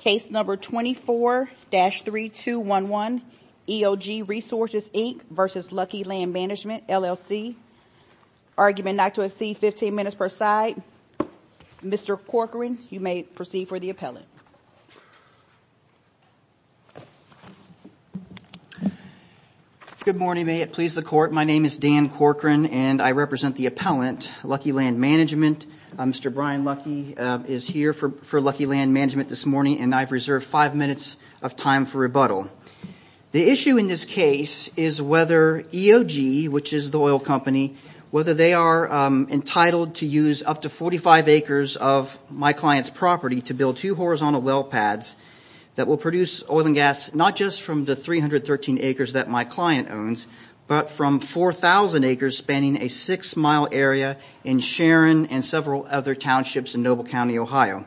Case number 24-3211, EOG Resources Inc v. Lucky Land Management LLC. Argument not to exceed 15 minutes per side. Mr. Corcoran, you may proceed for the appellant. Good morning, may it please the court. My name is Dan Corcoran and I represent the appellant, Lucky Land Management. Mr. Brian Lucky is here for Lucky Land Management this morning and I've reserved five minutes of time for rebuttal. The issue in this case is whether EOG, which is the oil company, whether they are entitled to use up to 45 acres of my client's property to build two horizontal well pads that will produce oil and gas not just from the 313 acres that my client owns, but from 4,000 acres spanning a six-mile area in Sharon and several other townships in Noble County, Ohio.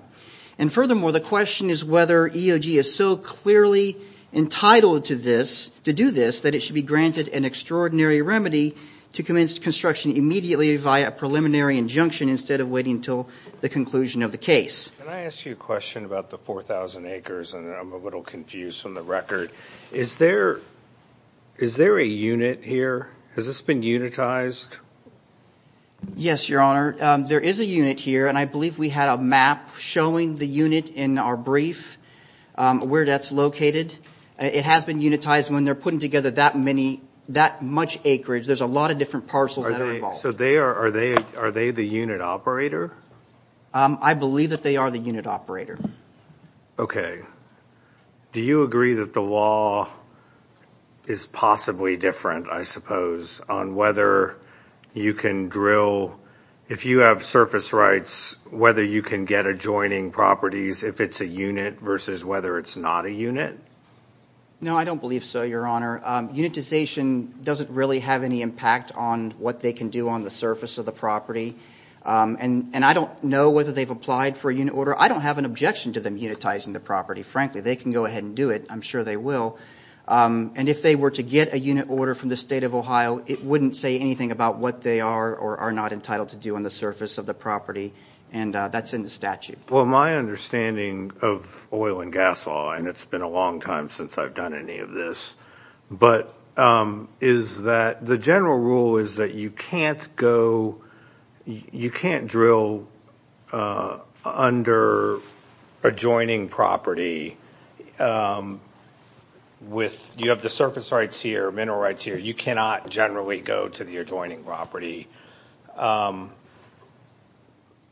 And furthermore, the question is whether EOG is so clearly entitled to this, to do this, that it should be granted an extraordinary remedy to commence construction immediately via a preliminary injunction instead of waiting until the conclusion of the case. Can I ask you a question about the 4,000 acres? I'm a little confused from the record. Is there, is there a unit here? Has this been unitized? Yes, your honor. There is a unit here and I believe we had a map showing the unit in our brief where that's located. It has been unitized when they're putting together that many, that much acreage. There's a lot of different parcels that are involved. So they are, are they, are they the unit operator? I believe that they are the unit operator. Okay. Do you agree that the law is possibly different, I suppose, on whether you can drill, if you have surface rights, whether you can get adjoining properties, if it's a unit versus whether it's not a unit? No, I don't believe so, your honor. Unitization doesn't really have any impact on what they can do on the surface of the property. And I don't know whether they've applied for a unit order. I don't have an objection to them unitizing the property, frankly. They can go ahead and do it. I'm sure they will. And if they were to get a unit order from the state of Ohio, it wouldn't say anything about what they are or are not entitled to do on the surface of the property. And that's in the statute. Well, my understanding of oil and gas law, and it's been a long time since I've done any of this, but is that the general rule is that you can't go, you can't drill under adjoining property with, you have the surface rights here, mineral rights here. You cannot generally go to the adjoining property.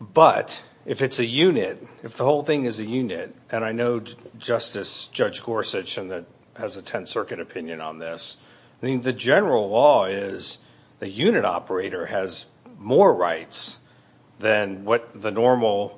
But if it's a unit, if the whole thing is a unit, and I know Justice Judge Gorsuch has a Tenth Circuit opinion on this. I mean, the general law is the unit operator has more rights than what the normal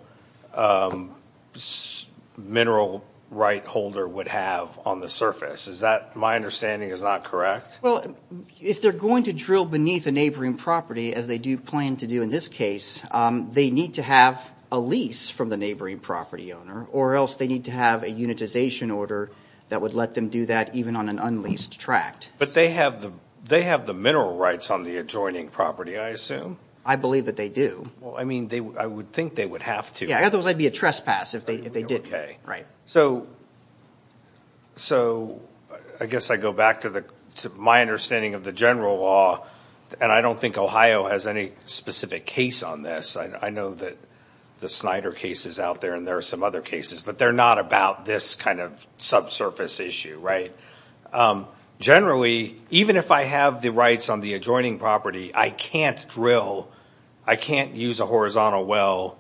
mineral right holder would have on the surface. Is that my understanding is not correct? Well, if they're going to drill beneath a neighboring property, as they do plan to do in this case, they need to have a lease from the neighboring property owner or else they need to have a unitization order that would let them do that even on an unleased tract. But they have the mineral rights on the adjoining property, I assume? I believe that they do. Well, I mean, I would think they would have to. Yeah, otherwise it'd be a trespass if they didn't. Right. So I guess I go back to my understanding of the general law, and I don't think Ohio has any specific case on this. I know that the Snyder case is out there and there are some other cases, but they're not about this kind of subsurface issue, right? Generally, even if I have the rights on the adjoining property, I can't drill, I can't use a horizontal well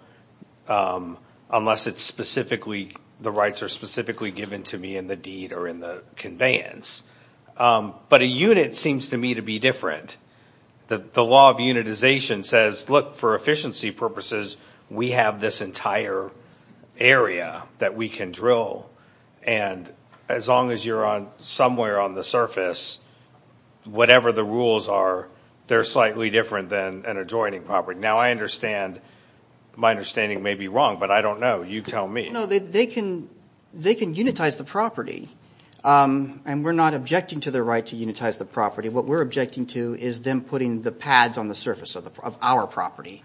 unless the rights are specifically given to me in the deed or in the conveyance. But a unit seems to me to be different. The law of unitization says, look, for efficiency purposes, we have this entire area that we can drill. And as long as you're on somewhere on the surface, whatever the rules are, they're slightly different than an adjoining property. Now, I understand, my understanding may be wrong, but I don't know. You tell me. No, they can unitize the property. And we're not objecting to the right to unitize the property. What we're objecting to is them putting the pads on the surface of our property.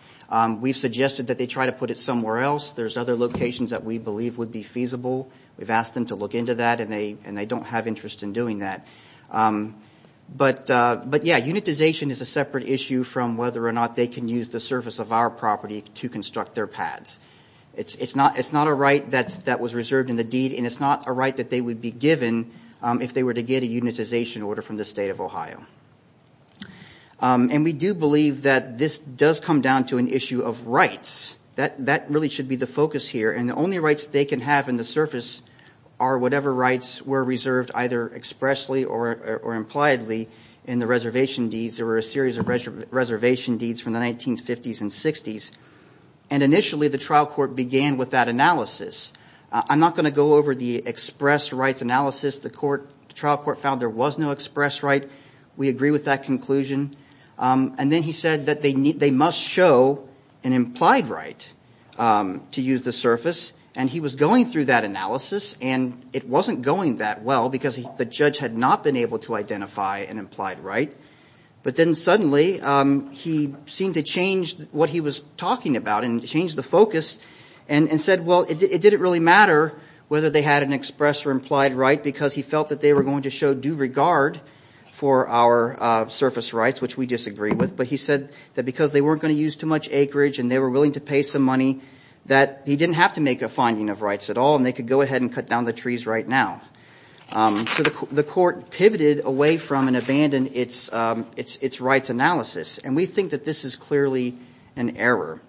We've suggested that they try to put it somewhere else. There's other locations that we believe would be feasible. We've asked them to look into that and they don't have interest in doing that. But yeah, unitization is a separate issue from whether or not they can use the surface of our property to construct their pads. It's not a right that was reserved in the deed, and it's not a that they would be given if they were to get a unitization order from the state of Ohio. And we do believe that this does come down to an issue of rights. That really should be the focus here. And the only rights they can have in the surface are whatever rights were reserved either expressly or impliedly in the reservation deeds. There were a series of reservation deeds from the 1950s and 60s. And initially, the trial court began with that analysis. I'm not going to go over the express rights analysis. The trial court found there was no express right. We agree with that conclusion. And then he said that they must show an implied right to use the surface. And he was going through that analysis, and it wasn't going that well because the judge had not been able to identify an implied right. But then suddenly, he seemed to change what he was talking about and changed the focus and said, well, it didn't really matter whether they had an express or implied right because he felt that they were going to show due regard for our surface rights, which we disagree with. But he said that because they weren't going to use too much acreage and they were willing to pay some money, that he didn't have to make a finding of rights at all, and they could go ahead and cut down the trees right now. So the court pivoted away and abandoned its rights analysis. And we think that this is clearly an error.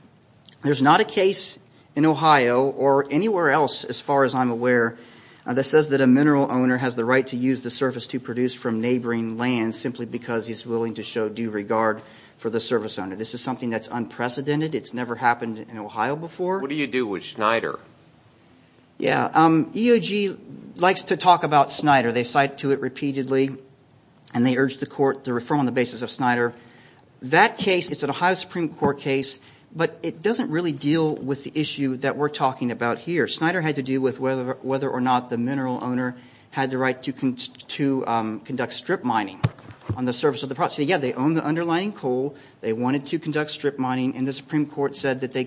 There's not a case in Ohio or anywhere else, as far as I'm aware, that says that a mineral owner has the right to use the surface to produce from neighboring land simply because he's willing to show due regard for the surface owner. This is something that's unprecedented. It's never happened in Ohio before. What do you do with Schneider? Yeah. EOG likes to talk about Schneider. They cite to it repeatedly and they urge the court to refer on the basis of Schneider. That case, it's an Ohio Supreme Court case, but it doesn't really deal with the issue that we're talking about here. Schneider had to do with whether or not the mineral owner had the right to conduct strip mining on the surface of the property. Yeah, they own the underlying coal. They wanted to conduct strip mining and the Supreme Court said that they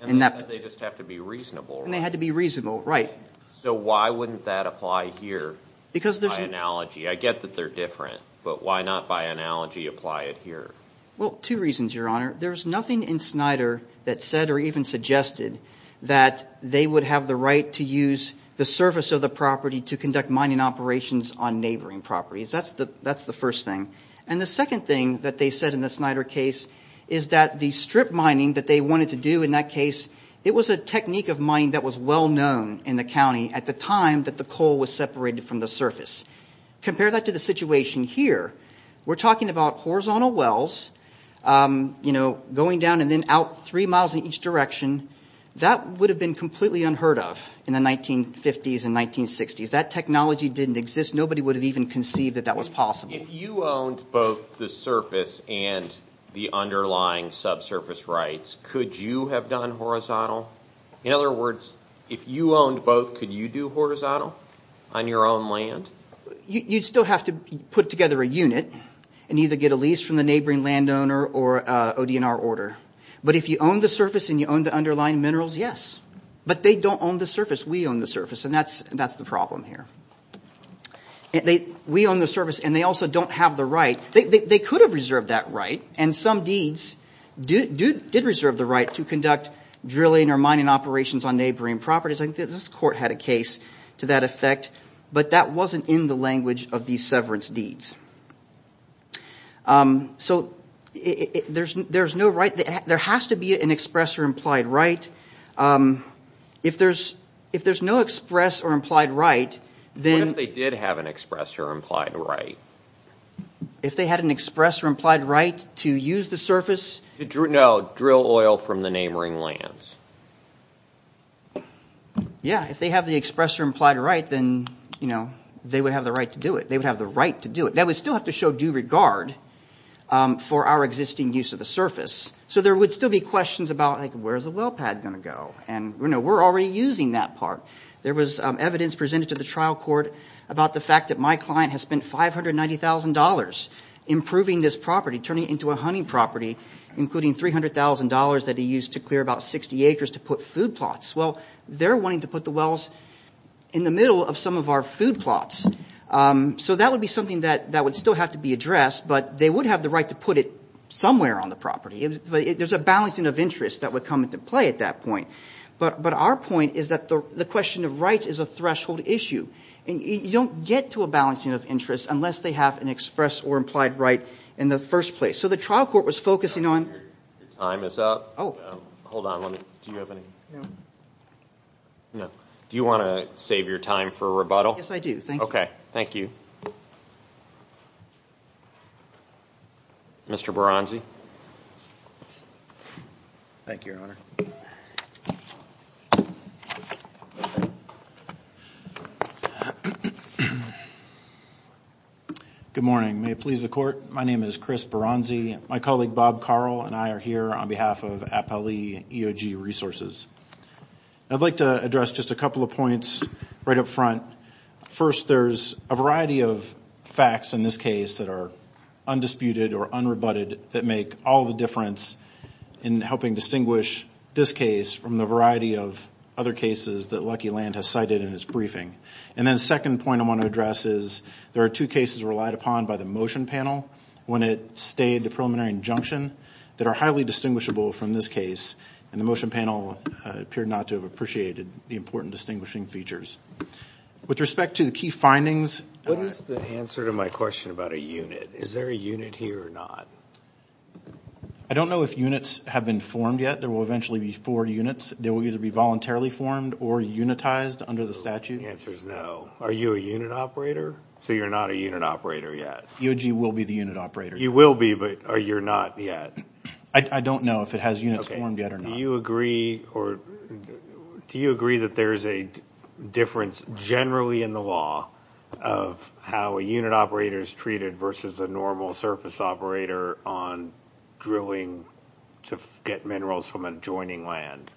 And they said they just have to be reasonable, right? And they had to be reasonable, right. So why wouldn't that apply here by analogy? I get that they're different, but why not by analogy apply it here? Well, two reasons, Your Honor. There's nothing in Schneider that said or even suggested that they would have the right to use the surface of the property to conduct mining operations on neighboring properties. That's the first thing. And the second thing that they said in the Schneider case is that the strip mining that they wanted to do in that case, it was a technique of mining that was well known in the county at the time that the coal was separated from the surface. Compare that to the situation here. We're talking about horizontal wells, you know, going down and then out three miles in each direction. That would have been completely unheard of in the 1950s and 1960s. That technology didn't exist. Nobody would have even conceived that that was possible. If you owned both the surface and the underlying subsurface rights, could you have done horizontal? In other words, if you owned both, could you do horizontal on your own land? You'd still have to put together a unit and either get a lease from the neighboring landowner or ODNR order. But if you own the surface and you own the underlying minerals, yes. But they don't own the surface. We own the surface. And that's the problem here. We own the surface and they also don't have the right. They could have reserved that right. And some deeds did reserve the right to conduct drilling or mining operations on neighboring properties. I think this court had a case to that effect. But that wasn't in the language of these severance deeds. So there's no right. There has to be an express or implied right. What if they did have an express or implied right? If they had an express or implied right to use the surface? No, drill oil from the neighboring lands. Yeah, if they have the express or implied right, then they would have the right to do it. They would have the right to do it. That would still have to show due regard for our existing use of the surface. So there would still be questions about, like, where's the well pad going? And we're already using that part. There was evidence presented to the trial court about the fact that my client has spent $590,000 improving this property, turning it into a hunting property, including $300,000 that he used to clear about 60 acres to put food plots. Well, they're wanting to put the wells in the middle of some of our food plots. So that would be something that would still have to be addressed. But they would have the right to put it somewhere on the property. There's a balancing of interests that would come into play at that point. But our point is that the question of rights is a threshold issue. And you don't get to a balancing of interests unless they have an express or implied right in the first place. So the trial court was focusing on... Your time is up. Hold on. Do you want to save your time for rebuttal? Yes, I do. Thank you. Okay. Thank you. Mr. Baranzi. Thank you, Your Honor. Good morning. May it please the court. My name is Chris Baranzi. My colleague, Bob Carl, and I are here on behalf of Appali EOG Resources. I'd like to address just a couple of points right up front. First, there's a variety of facts in this case that are undisputed or unrebutted that make all the difference in helping distinguish this case from the variety of other cases that Lucky Land has cited in its briefing. And then the second point I want to address is there are two cases relied upon by the motion panel when it stayed the preliminary injunction that are highly distinguishable from this case. And the motion panel appeared not to have appreciated the important distinguishing features. With respect to the key findings... What is the answer to my question about a unit? Is there a unit here or not? I don't know if units have been formed yet. There will eventually be four units. They will either be voluntarily formed or unitized under the statute. The answer is no. Are you a unit operator? So you're not a unit operator yet. EOG will be the unit operator. You will be, but are you not yet? I don't know if it has units formed yet or not. Do you agree that there's a difference generally in the law of how a unit operator is treated versus a normal surface operator on drilling to get minerals from adjoining land?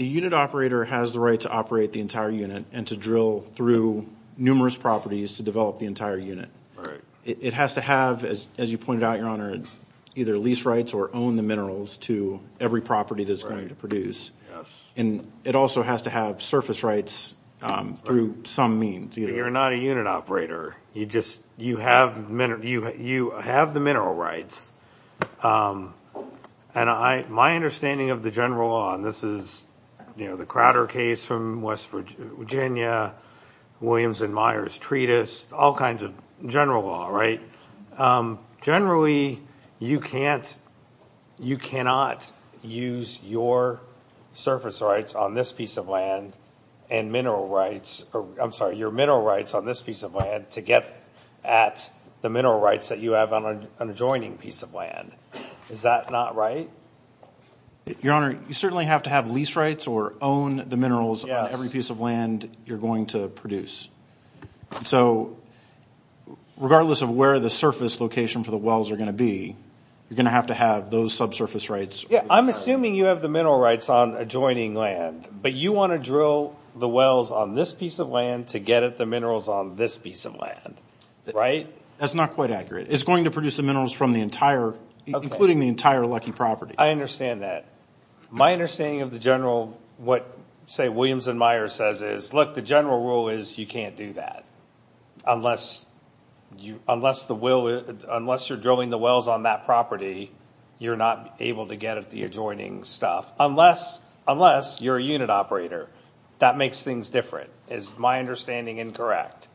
A unit operator has the right to operate the entire unit and to drill through numerous properties to develop the entire unit. It has to have, as you pointed out, Your Honor, either lease rights or own the minerals to every property that it's going to produce. And it also has to have surface rights through some means. You're not a unit operator. You have the mineral rights. And my understanding of the general law, and this is the Crowder case from West Virginia, Williams and Myers treatise, all kinds of general law, right? Generally, you cannot use your surface rights on this piece of land and mineral rights, I'm sorry, your mineral rights on this piece of land to get at the mineral rights that you have on an adjoining piece of land. Is that not right? Your Honor, you certainly have to have lease rights or own the minerals on every piece of land you're going to produce. So regardless of where the surface location for the wells are going to be, you're going to have to have those subsurface rights. Yeah, I'm assuming you have the mineral rights on adjoining land, but you want to drill the wells on this piece of land to get at the minerals on this piece of land, right? That's not quite accurate. It's going to produce the minerals from the entire, including the entire lucky property. I understand that. My understanding of the general, what, say, Williams and Myers says is, look, the general rule is you can't do that. Unless you're drilling the wells on that property, you're not able to get at the adjoining stuff. Unless you're a unit operator, that makes things different. Is my understanding incorrect?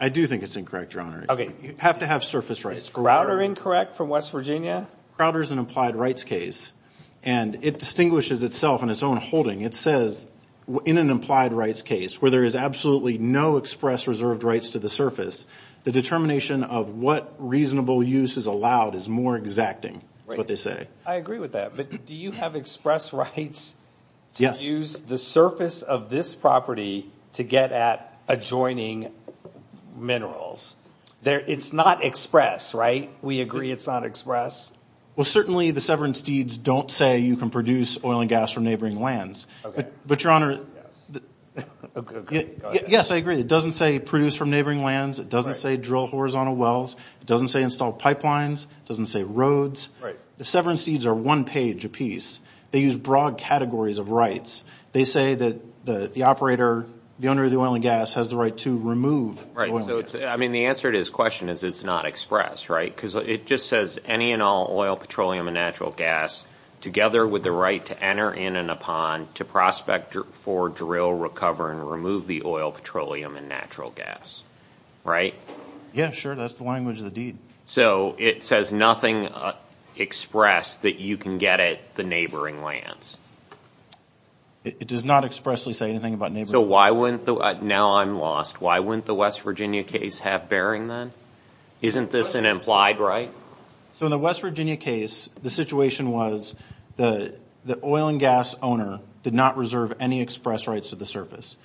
I do think it's incorrect, Your Honor. You have to have surface rights. Is Crowder incorrect from West Virginia? Crowder's an implied rights case, and it distinguishes itself in its own holding. It says in an implied rights case, where there is absolutely no express reserved rights to the surface, the determination of what reasonable use is allowed is more exacting, is what they say. I agree with that, but do you have express rights to use the surface of this property to get at adjoining minerals? It's not express, right? We agree it's not express? Well, certainly the severance deeds don't say you can produce oil and gas from neighboring lands. But, Your Honor, yes, I agree. It doesn't say produce from neighboring lands. It doesn't say drill horizontal wells. It doesn't say install pipelines. It doesn't say roads. The severance deeds are one page apiece. They use broad categories of rights. They say that the operator, the owner of the oil and gas, has the right to remove oil and gas. I mean, the answer to his question is it's not express, right? Because it just says any and all oil, petroleum, and natural gas, together with the right to enter in and upon to prospect for drill, recover, and remove the oil, petroleum, and natural gas, right? Yeah, sure. That's the language of the deed. So it says nothing expressed that you can get at the neighboring lands? It does not expressly say anything about neighboring lands. So why wouldn't the, now I'm lost, why wouldn't the West Virginia case have bearing then? Isn't this an implied right? So in the West Virginia case, the situation was the oil and gas owner did not reserve any express rights to the surface.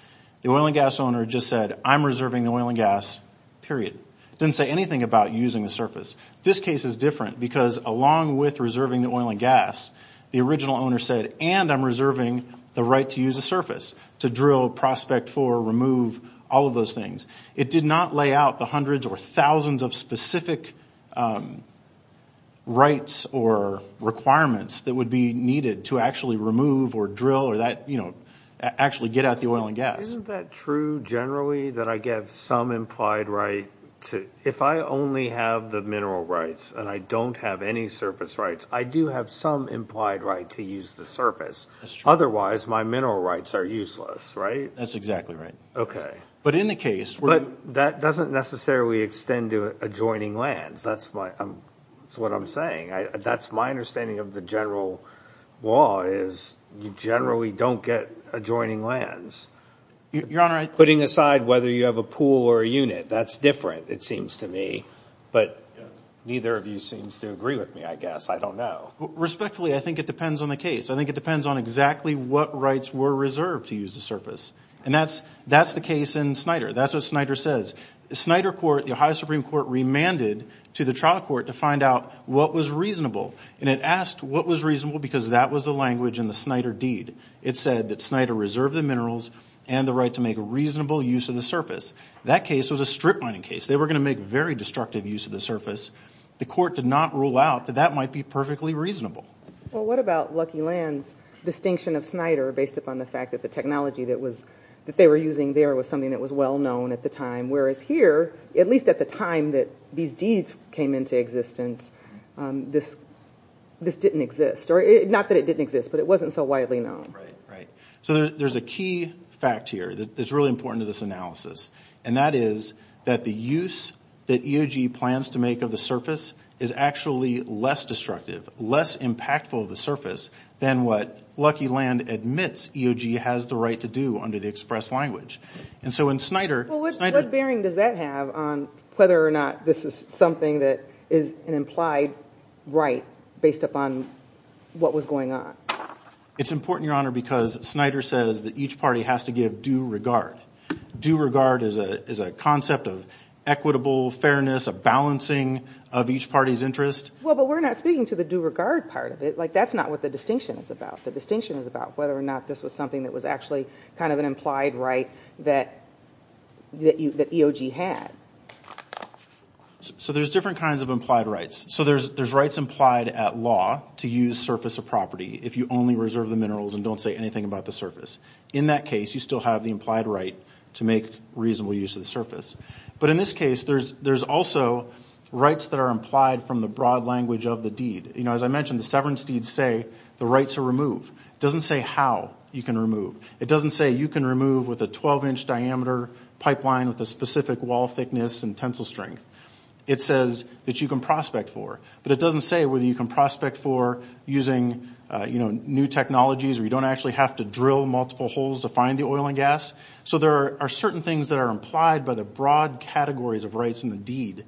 The oil and gas owner just said, I'm reserving the oil and gas, period. It didn't say anything about using the surface. This case is different because along with reserving the oil and gas, the original owner said, and I'm reserving the right to use the surface to drill, prospect for, remove, all of those things. It did not lay out the hundreds or thousands of specific rights or requirements that would be needed to actually remove or drill or that, you know, actually get out the oil and gas. Isn't that true generally that I get some implied right to, if I only have the mineral rights and I don't have any surface rights, I do have some implied right to use the surface. Otherwise, my mineral rights are useless, right? That's exactly right. Okay. But in the case where... But that doesn't necessarily extend to adjoining lands. That's what I'm saying. That's my understanding of the general law is you generally don't get adjoining lands. Your Honor, I... Putting aside whether you have a pool or a unit, that's different, it seems to me. But neither of you seems to agree with me, I guess. I don't know. Respectfully, I think it depends on the case. I think it depends on exactly what rights were reserved to use the surface. And that's the case in Snider. That's what Snider says. The Snider court, the Ohio Supreme Court, remanded to the trial court to find out what was reasonable. And it asked what was reasonable because that was the language in the Snider deed. It said that Snider reserved the minerals and the right to make a reasonable use of the surface. That case was a strip mining case. They were going to make very destructive use of the surface. The court did not rule out that that might be perfectly reasonable. Well, what about Lucky Land's distinction of Snider based upon the fact that the technology that they were using there was something that was well known at the time, whereas here, at least at the time that these deeds came into existence, this didn't exist. Not that it didn't exist, but it wasn't so widely known. Right, right. So there's a key fact here that's really important to this analysis, and that is that the use that EOG plans to make of the surface is actually less destructive, less impactful of the surface than what Lucky Land admits EOG has the right to do under the express language. And so in Snider... Well, what bearing does that have on whether or not this is something that is an implied right based upon what was going on? It's important, Your Honor, because Snider says that each party has to give due regard. Due regard is a concept of equitable fairness, a balancing of each party's interest. But we're not speaking to the due regard part of it. That's not what the distinction is about. The distinction is about whether or not this was something that was actually kind of an implied right that EOG had. So there's different kinds of implied rights. So there's rights implied at law to use surface of property if you only reserve the minerals and don't say anything about the surface. In that case, you still have the implied right to make reasonable use of the surface. But in this case, there's also rights that are implied from the broad language of the deed. You know, as I mentioned, the severance deeds say the rights are removed. It doesn't say how you can remove. It doesn't say you can remove with a 12-inch diameter pipeline with a specific wall thickness and tensile strength. It says that you can prospect for. But it doesn't say whether you can prospect for using new technologies or you don't actually have to drill multiple holes to find the oil and gas. So there are certain things that are implied by the broad categories of rights in the deed.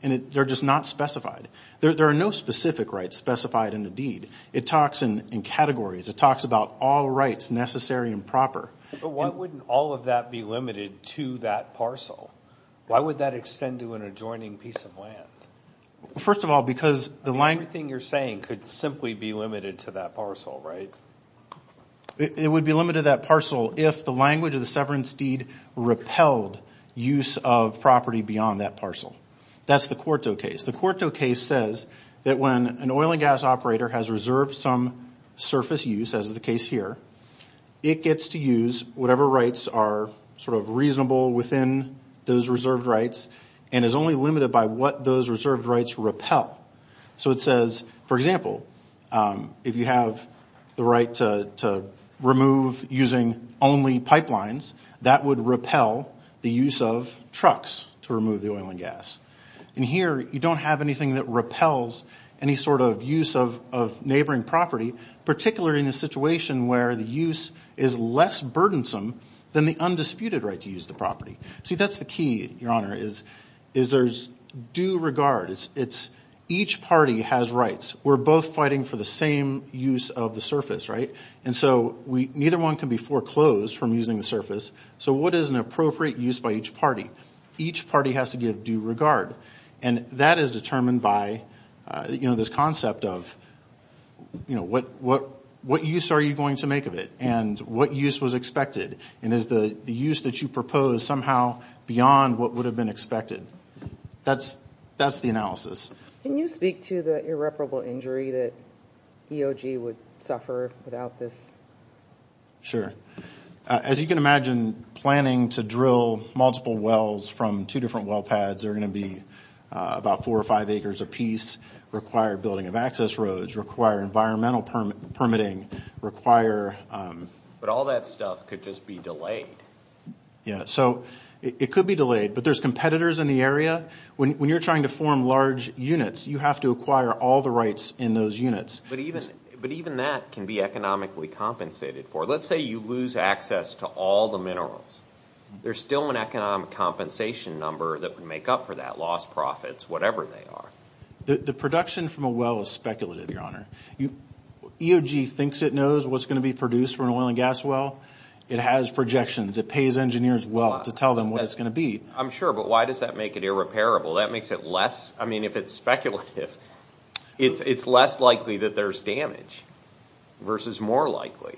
And they're just not specified. There are no specific rights specified in the deed. It talks in categories. It talks about all rights necessary and proper. But why wouldn't all of that be limited to that parcel? Why would that extend to an adjoining piece of land? First of all, because the language... Everything you're saying could simply be limited to that parcel, right? It would be limited to that parcel if the language of the severance deed repelled use of property beyond that parcel. That's the quarto case. The quarto case says that when an oil and gas operator has reserved some surface use, as is the case here, it gets to use whatever rights are sort of reasonable within those reserved rights and is only limited by what those reserved rights repel. So it says, for example, if you have the right to remove using only pipelines, that would repel the use of trucks to remove the oil and gas. And here, you don't have anything that repels any sort of use of neighboring property, particularly in a situation where the use is less burdensome than the undisputed right to use the property. See, that's the key, Your Honor, is there's due regard. Each party has rights. We're both fighting for the same use of the surface, right? And so neither one can be foreclosed from using the surface. So what is an appropriate use by each party? Each party has to give due regard. And that is determined by this concept of what use are you going to make of it? And what use was expected? And is the use that you propose somehow beyond what would have been expected? That's the analysis. Can you speak to the irreparable injury that EOG would suffer without this? Sure. As you can imagine, planning to drill multiple wells from two different well pads are going to be about four or five acres apiece, require building of access roads, require environmental permitting, require... But all that stuff could just be delayed. Yeah, so it could be delayed. But there's competitors in the area. When you're trying to form large units, you have to acquire all the rights in those units. But even that can be economically compensated for. Let's say you lose access to all the minerals. There's still an economic compensation number that would make up for that, lost profits, whatever they are. The production from a well is speculative, Your Honor. EOG thinks it knows what's going to be produced for an oil and gas well. It has projections. It pays engineers well to tell them what it's going to be. Sure, but why does that make it irreparable? That makes it less... I mean, if it's speculative, it's less likely that there's damage versus more likely.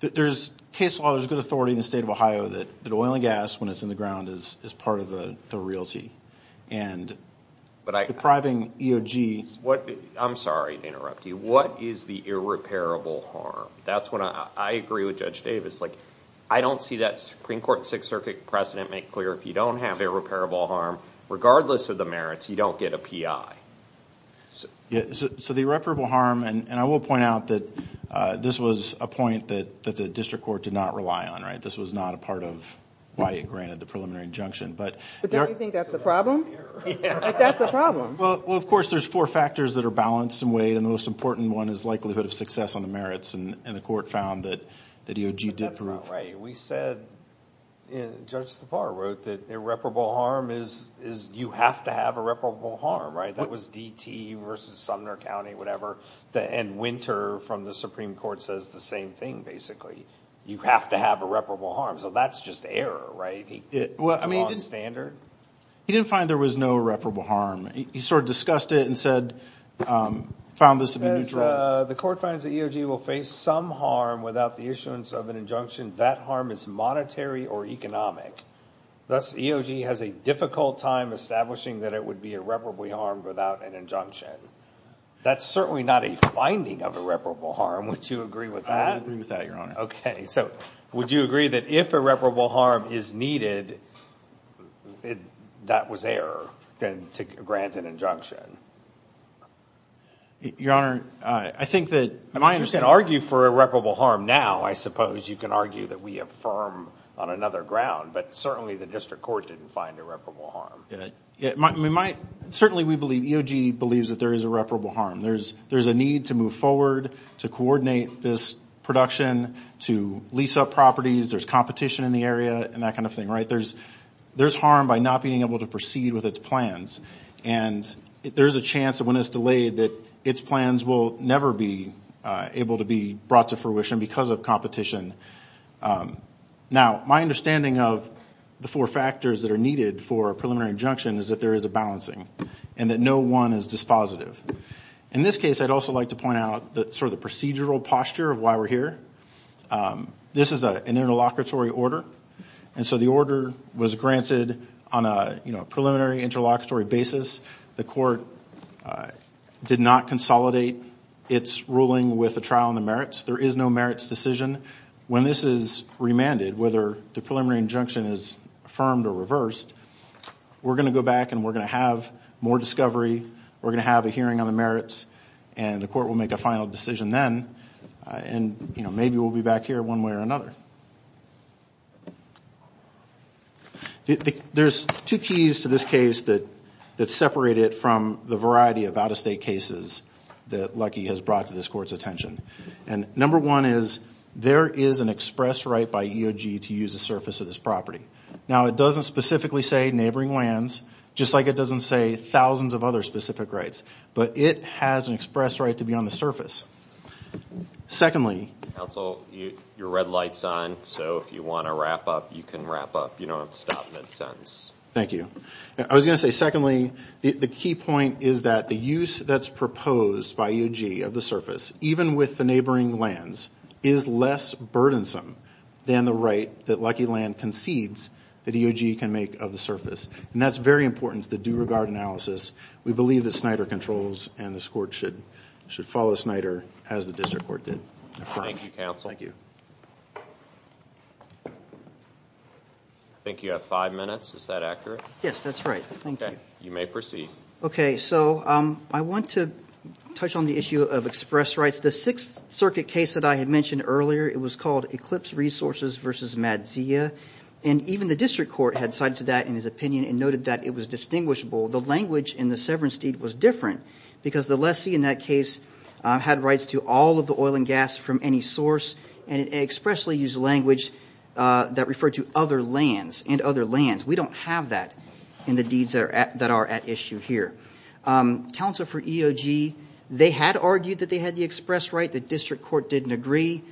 There's case law, there's good authority in the state of Ohio that oil and gas, when it's in the ground, is part of the realty. And depriving EOG... I'm sorry to interrupt you. What is the irreparable harm? That's when I agree with Judge Davis. I don't see that Supreme Court Sixth Circuit precedent make clear, if you don't have irreparable harm, regardless of the merits, you don't get a PI. So the irreparable harm, and I will point out that this was a point that the district court did not rely on, right? This was not a part of why it granted the preliminary injunction. But don't you think that's a problem? That's a problem. Well, of course, there's four factors that are balanced and weighed. And the most important one is likelihood of success on the merits. And the court found that EOG did prove... But that's not right. We said, Judge Thapar wrote, that irreparable harm is... You have to have irreparable harm, right? That was DT versus Sumner County, whatever. And Winter from the Supreme Court says the same thing, basically. You have to have irreparable harm. So that's just error, right? It's the wrong standard. He didn't find there was no irreparable harm. He sort of discussed it and said, found this to be neutral. The court finds that EOG will face some harm without the issuance of an injunction. That harm is monetary or economic. Thus, EOG has a difficult time establishing that it would be irreparable harm without an injunction. That's certainly not a finding of irreparable harm. Would you agree with that? I would agree with that, Your Honor. Okay. So would you agree that if irreparable harm is needed, that was error to grant an injunction? Your Honor, I think that... You can argue for irreparable harm now, I suppose. You can argue that we affirm on another ground. But certainly, the district court didn't find irreparable harm. Yeah, we might. Certainly, we believe, EOG believes that there is irreparable harm. There's a need to move forward, to coordinate this production, to lease up properties. There's competition in the area and that kind of thing, right? There's harm by not being able to proceed with its plans. And there's a chance that when it's delayed, that its plans will never be able to be brought to fruition because of competition. Now, my understanding of the four factors that are needed for a preliminary injunction is that there is a balancing and that no one is dispositive. In this case, I'd also like to point out sort of the procedural posture of why we're here. This is an interlocutory order. And so the order was granted on a preliminary, interlocutory basis. The court did not consolidate its ruling with a trial on the merits. There is no merits decision. When this is remanded, whether the preliminary injunction is affirmed or reversed, we're going to go back and we're going to have more discovery. We're going to have a hearing on the merits. And the court will make a final decision then. And maybe we'll be back here one way or another. There's two keys to this case that separate it from the variety of out-of-state cases that Lucky has brought to this court's attention. And number one is, there is an express right by EOG to use the surface of this property. Now, it doesn't specifically say neighboring lands, just like it doesn't say thousands of other specific rights. But it has an express right to be on the surface. Secondly... Counsel, your red light's on. So if you want to wrap up, you can wrap up. You don't have to stop mid-sentence. Thank you. I was going to say, secondly, the key point is that the use that's proposed by EOG of the surface, even with the neighboring lands, is less burdensome than the right that Lucky Land concedes that EOG can make of the surface. And that's very important to the due regard analysis. We believe that Snyder controls, and this court should follow Snyder as the district court did. Thank you, Counsel. I think you have five minutes. Is that accurate? Yes, that's right. Thank you. You may proceed. Okay, so I want to touch on the issue of express rights. The Sixth Circuit case that I had mentioned earlier, it was called Eclipse Resources v. Madzia. And even the district court had cited that in his opinion and noted that it was distinguishable. The language in the severance deed was different because the lessee in that case had rights to all of the oil and gas from any source and expressly used language that referred to other lands and other lands. We don't have that in the deeds that are at issue here. Counsel for EOG, they had argued that they had the express right. The district court didn't agree.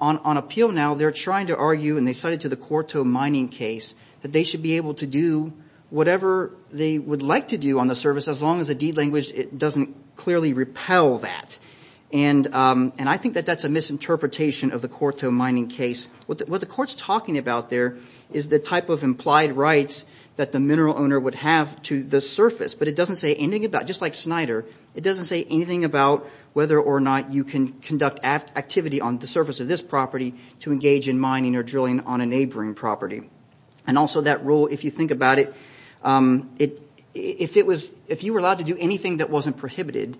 On appeal now, they're trying to argue, and they cited to the Corto Mining case, that they should be able to do whatever they would like to do on the surface as long as the deed language doesn't clearly repel that. And I think that that's a misinterpretation of the Corto Mining case. What the court's talking about there is the type of implied rights that the mineral owner would have to the surface. But it doesn't say anything about, just like Snyder, it doesn't say anything about whether or not you can conduct activity on the surface of this property to engage in mining or drilling on a neighboring property. And also that rule, if you think about it, if you were allowed to do anything that wasn't prohibited,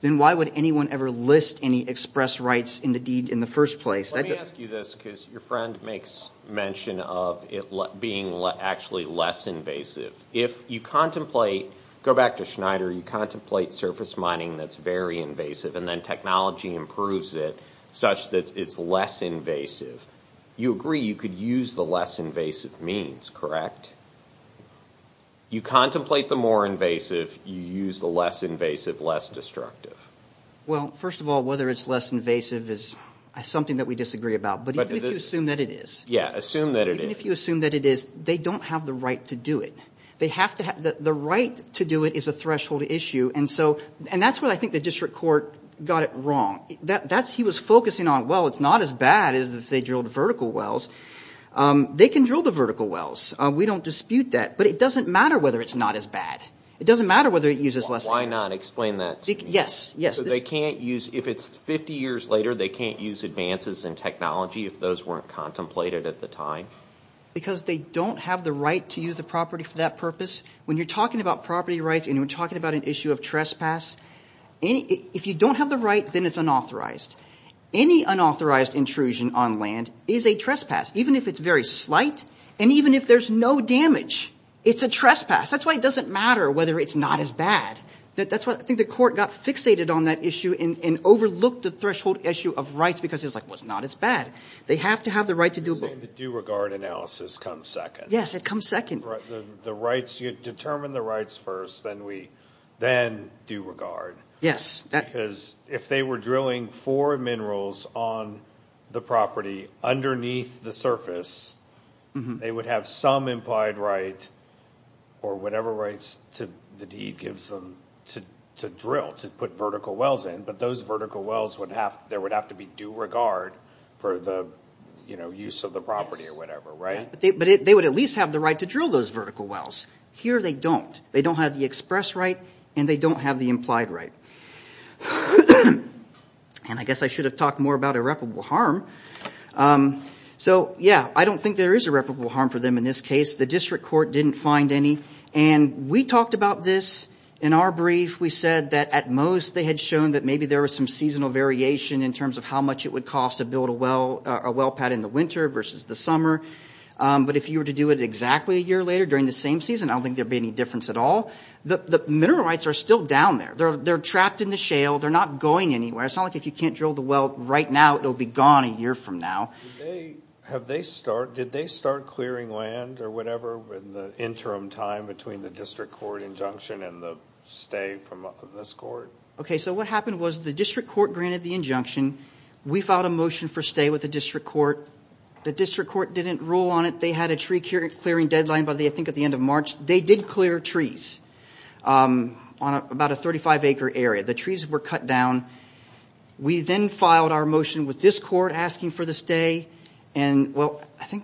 then why would anyone ever list any express rights in the deed in the first place? Let me ask you this because your friend makes mention of it being actually less invasive. If you contemplate, go back to Snyder, you contemplate surface mining that's very invasive and then technology improves it such that it's less invasive. You agree you could use the less invasive means, correct? You contemplate the more invasive, you use the less invasive, less destructive. Well, first of all, whether it's less invasive is something that we disagree about. But even if you assume that it is. Yeah, assume that it is. Even if you assume that it is, they don't have the right to do it. The right to do it is a threshold issue. And that's where I think the district court got it wrong. He was focusing on, well, it's not as bad as if they drilled vertical wells. They can drill the vertical wells. We don't dispute that. But it doesn't matter whether it's not as bad. It doesn't matter whether it uses less. Why not? Explain that. Yes, yes. They can't use, if it's 50 years later, they can't use advances in technology if those weren't contemplated at the time. Because they don't have the right to use the property for that purpose. When you're talking about property rights and you're talking about an issue of trespass, and if you don't have the right, then it's unauthorized. Any unauthorized intrusion on land is a trespass, even if it's very slight. And even if there's no damage, it's a trespass. That's why it doesn't matter whether it's not as bad. That's why I think the court got fixated on that issue and overlooked the threshold issue of rights. Because it's like, well, it's not as bad. They have to have the right to do both. You're saying the due regard analysis comes second. Yes, it comes second. The rights, you determine the rights first, then due regard. Yes. Because if they were drilling for minerals on the property underneath the surface, they would have some implied right or whatever rights the deed gives them to drill, to put vertical wells in. But those vertical wells, there would have to be due regard for the use of the property or whatever, right? But they would at least have the right to drill those vertical wells. Here they don't. They don't have the express right and they don't have the implied right. And I guess I should have talked more about irreparable harm. So yeah, I don't think there is irreparable harm for them in this case. The district court didn't find any. And we talked about this in our brief. We said that at most they had shown that maybe there was some seasonal variation in terms of how much it would cost to build a well pad in the winter versus the summer. But if you were to do it exactly a year later during the same season, I don't think there'd be any difference at all. The mineral rights are still down there. They're trapped in the shale. They're not going anywhere. It's not like if you can't drill the well right now, it'll be gone a year from now. Did they start clearing land or whatever in the interim time between the district court injunction and the stay from this court? Okay, so what happened was the district court granted the injunction. We filed a motion for stay with the district court. The district court didn't rule on it. They had a tree clearing deadline by, I think, at the end of March. They did clear trees on about a 35-acre area. The trees were cut down. We then filed our motion with this court asking for the stay. And well, I can't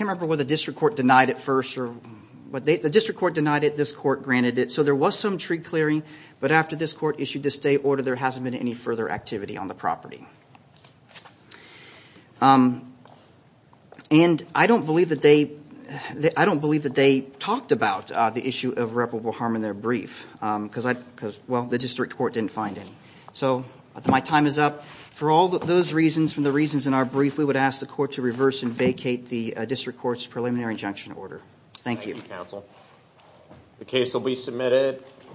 remember whether the district court denied it first. The district court denied it. This court granted it. So there was some tree clearing. But after this court issued the stay order, there hasn't been any further activity on the property. And I don't believe that they talked about the issue of reparable harm in their brief. Well, the district court didn't find any. So my time is up. For all those reasons, from the reasons in our brief, we would ask the court to reverse and vacate the district court's preliminary injunction order. Thank you. Thank you, counsel. The case will be submitted.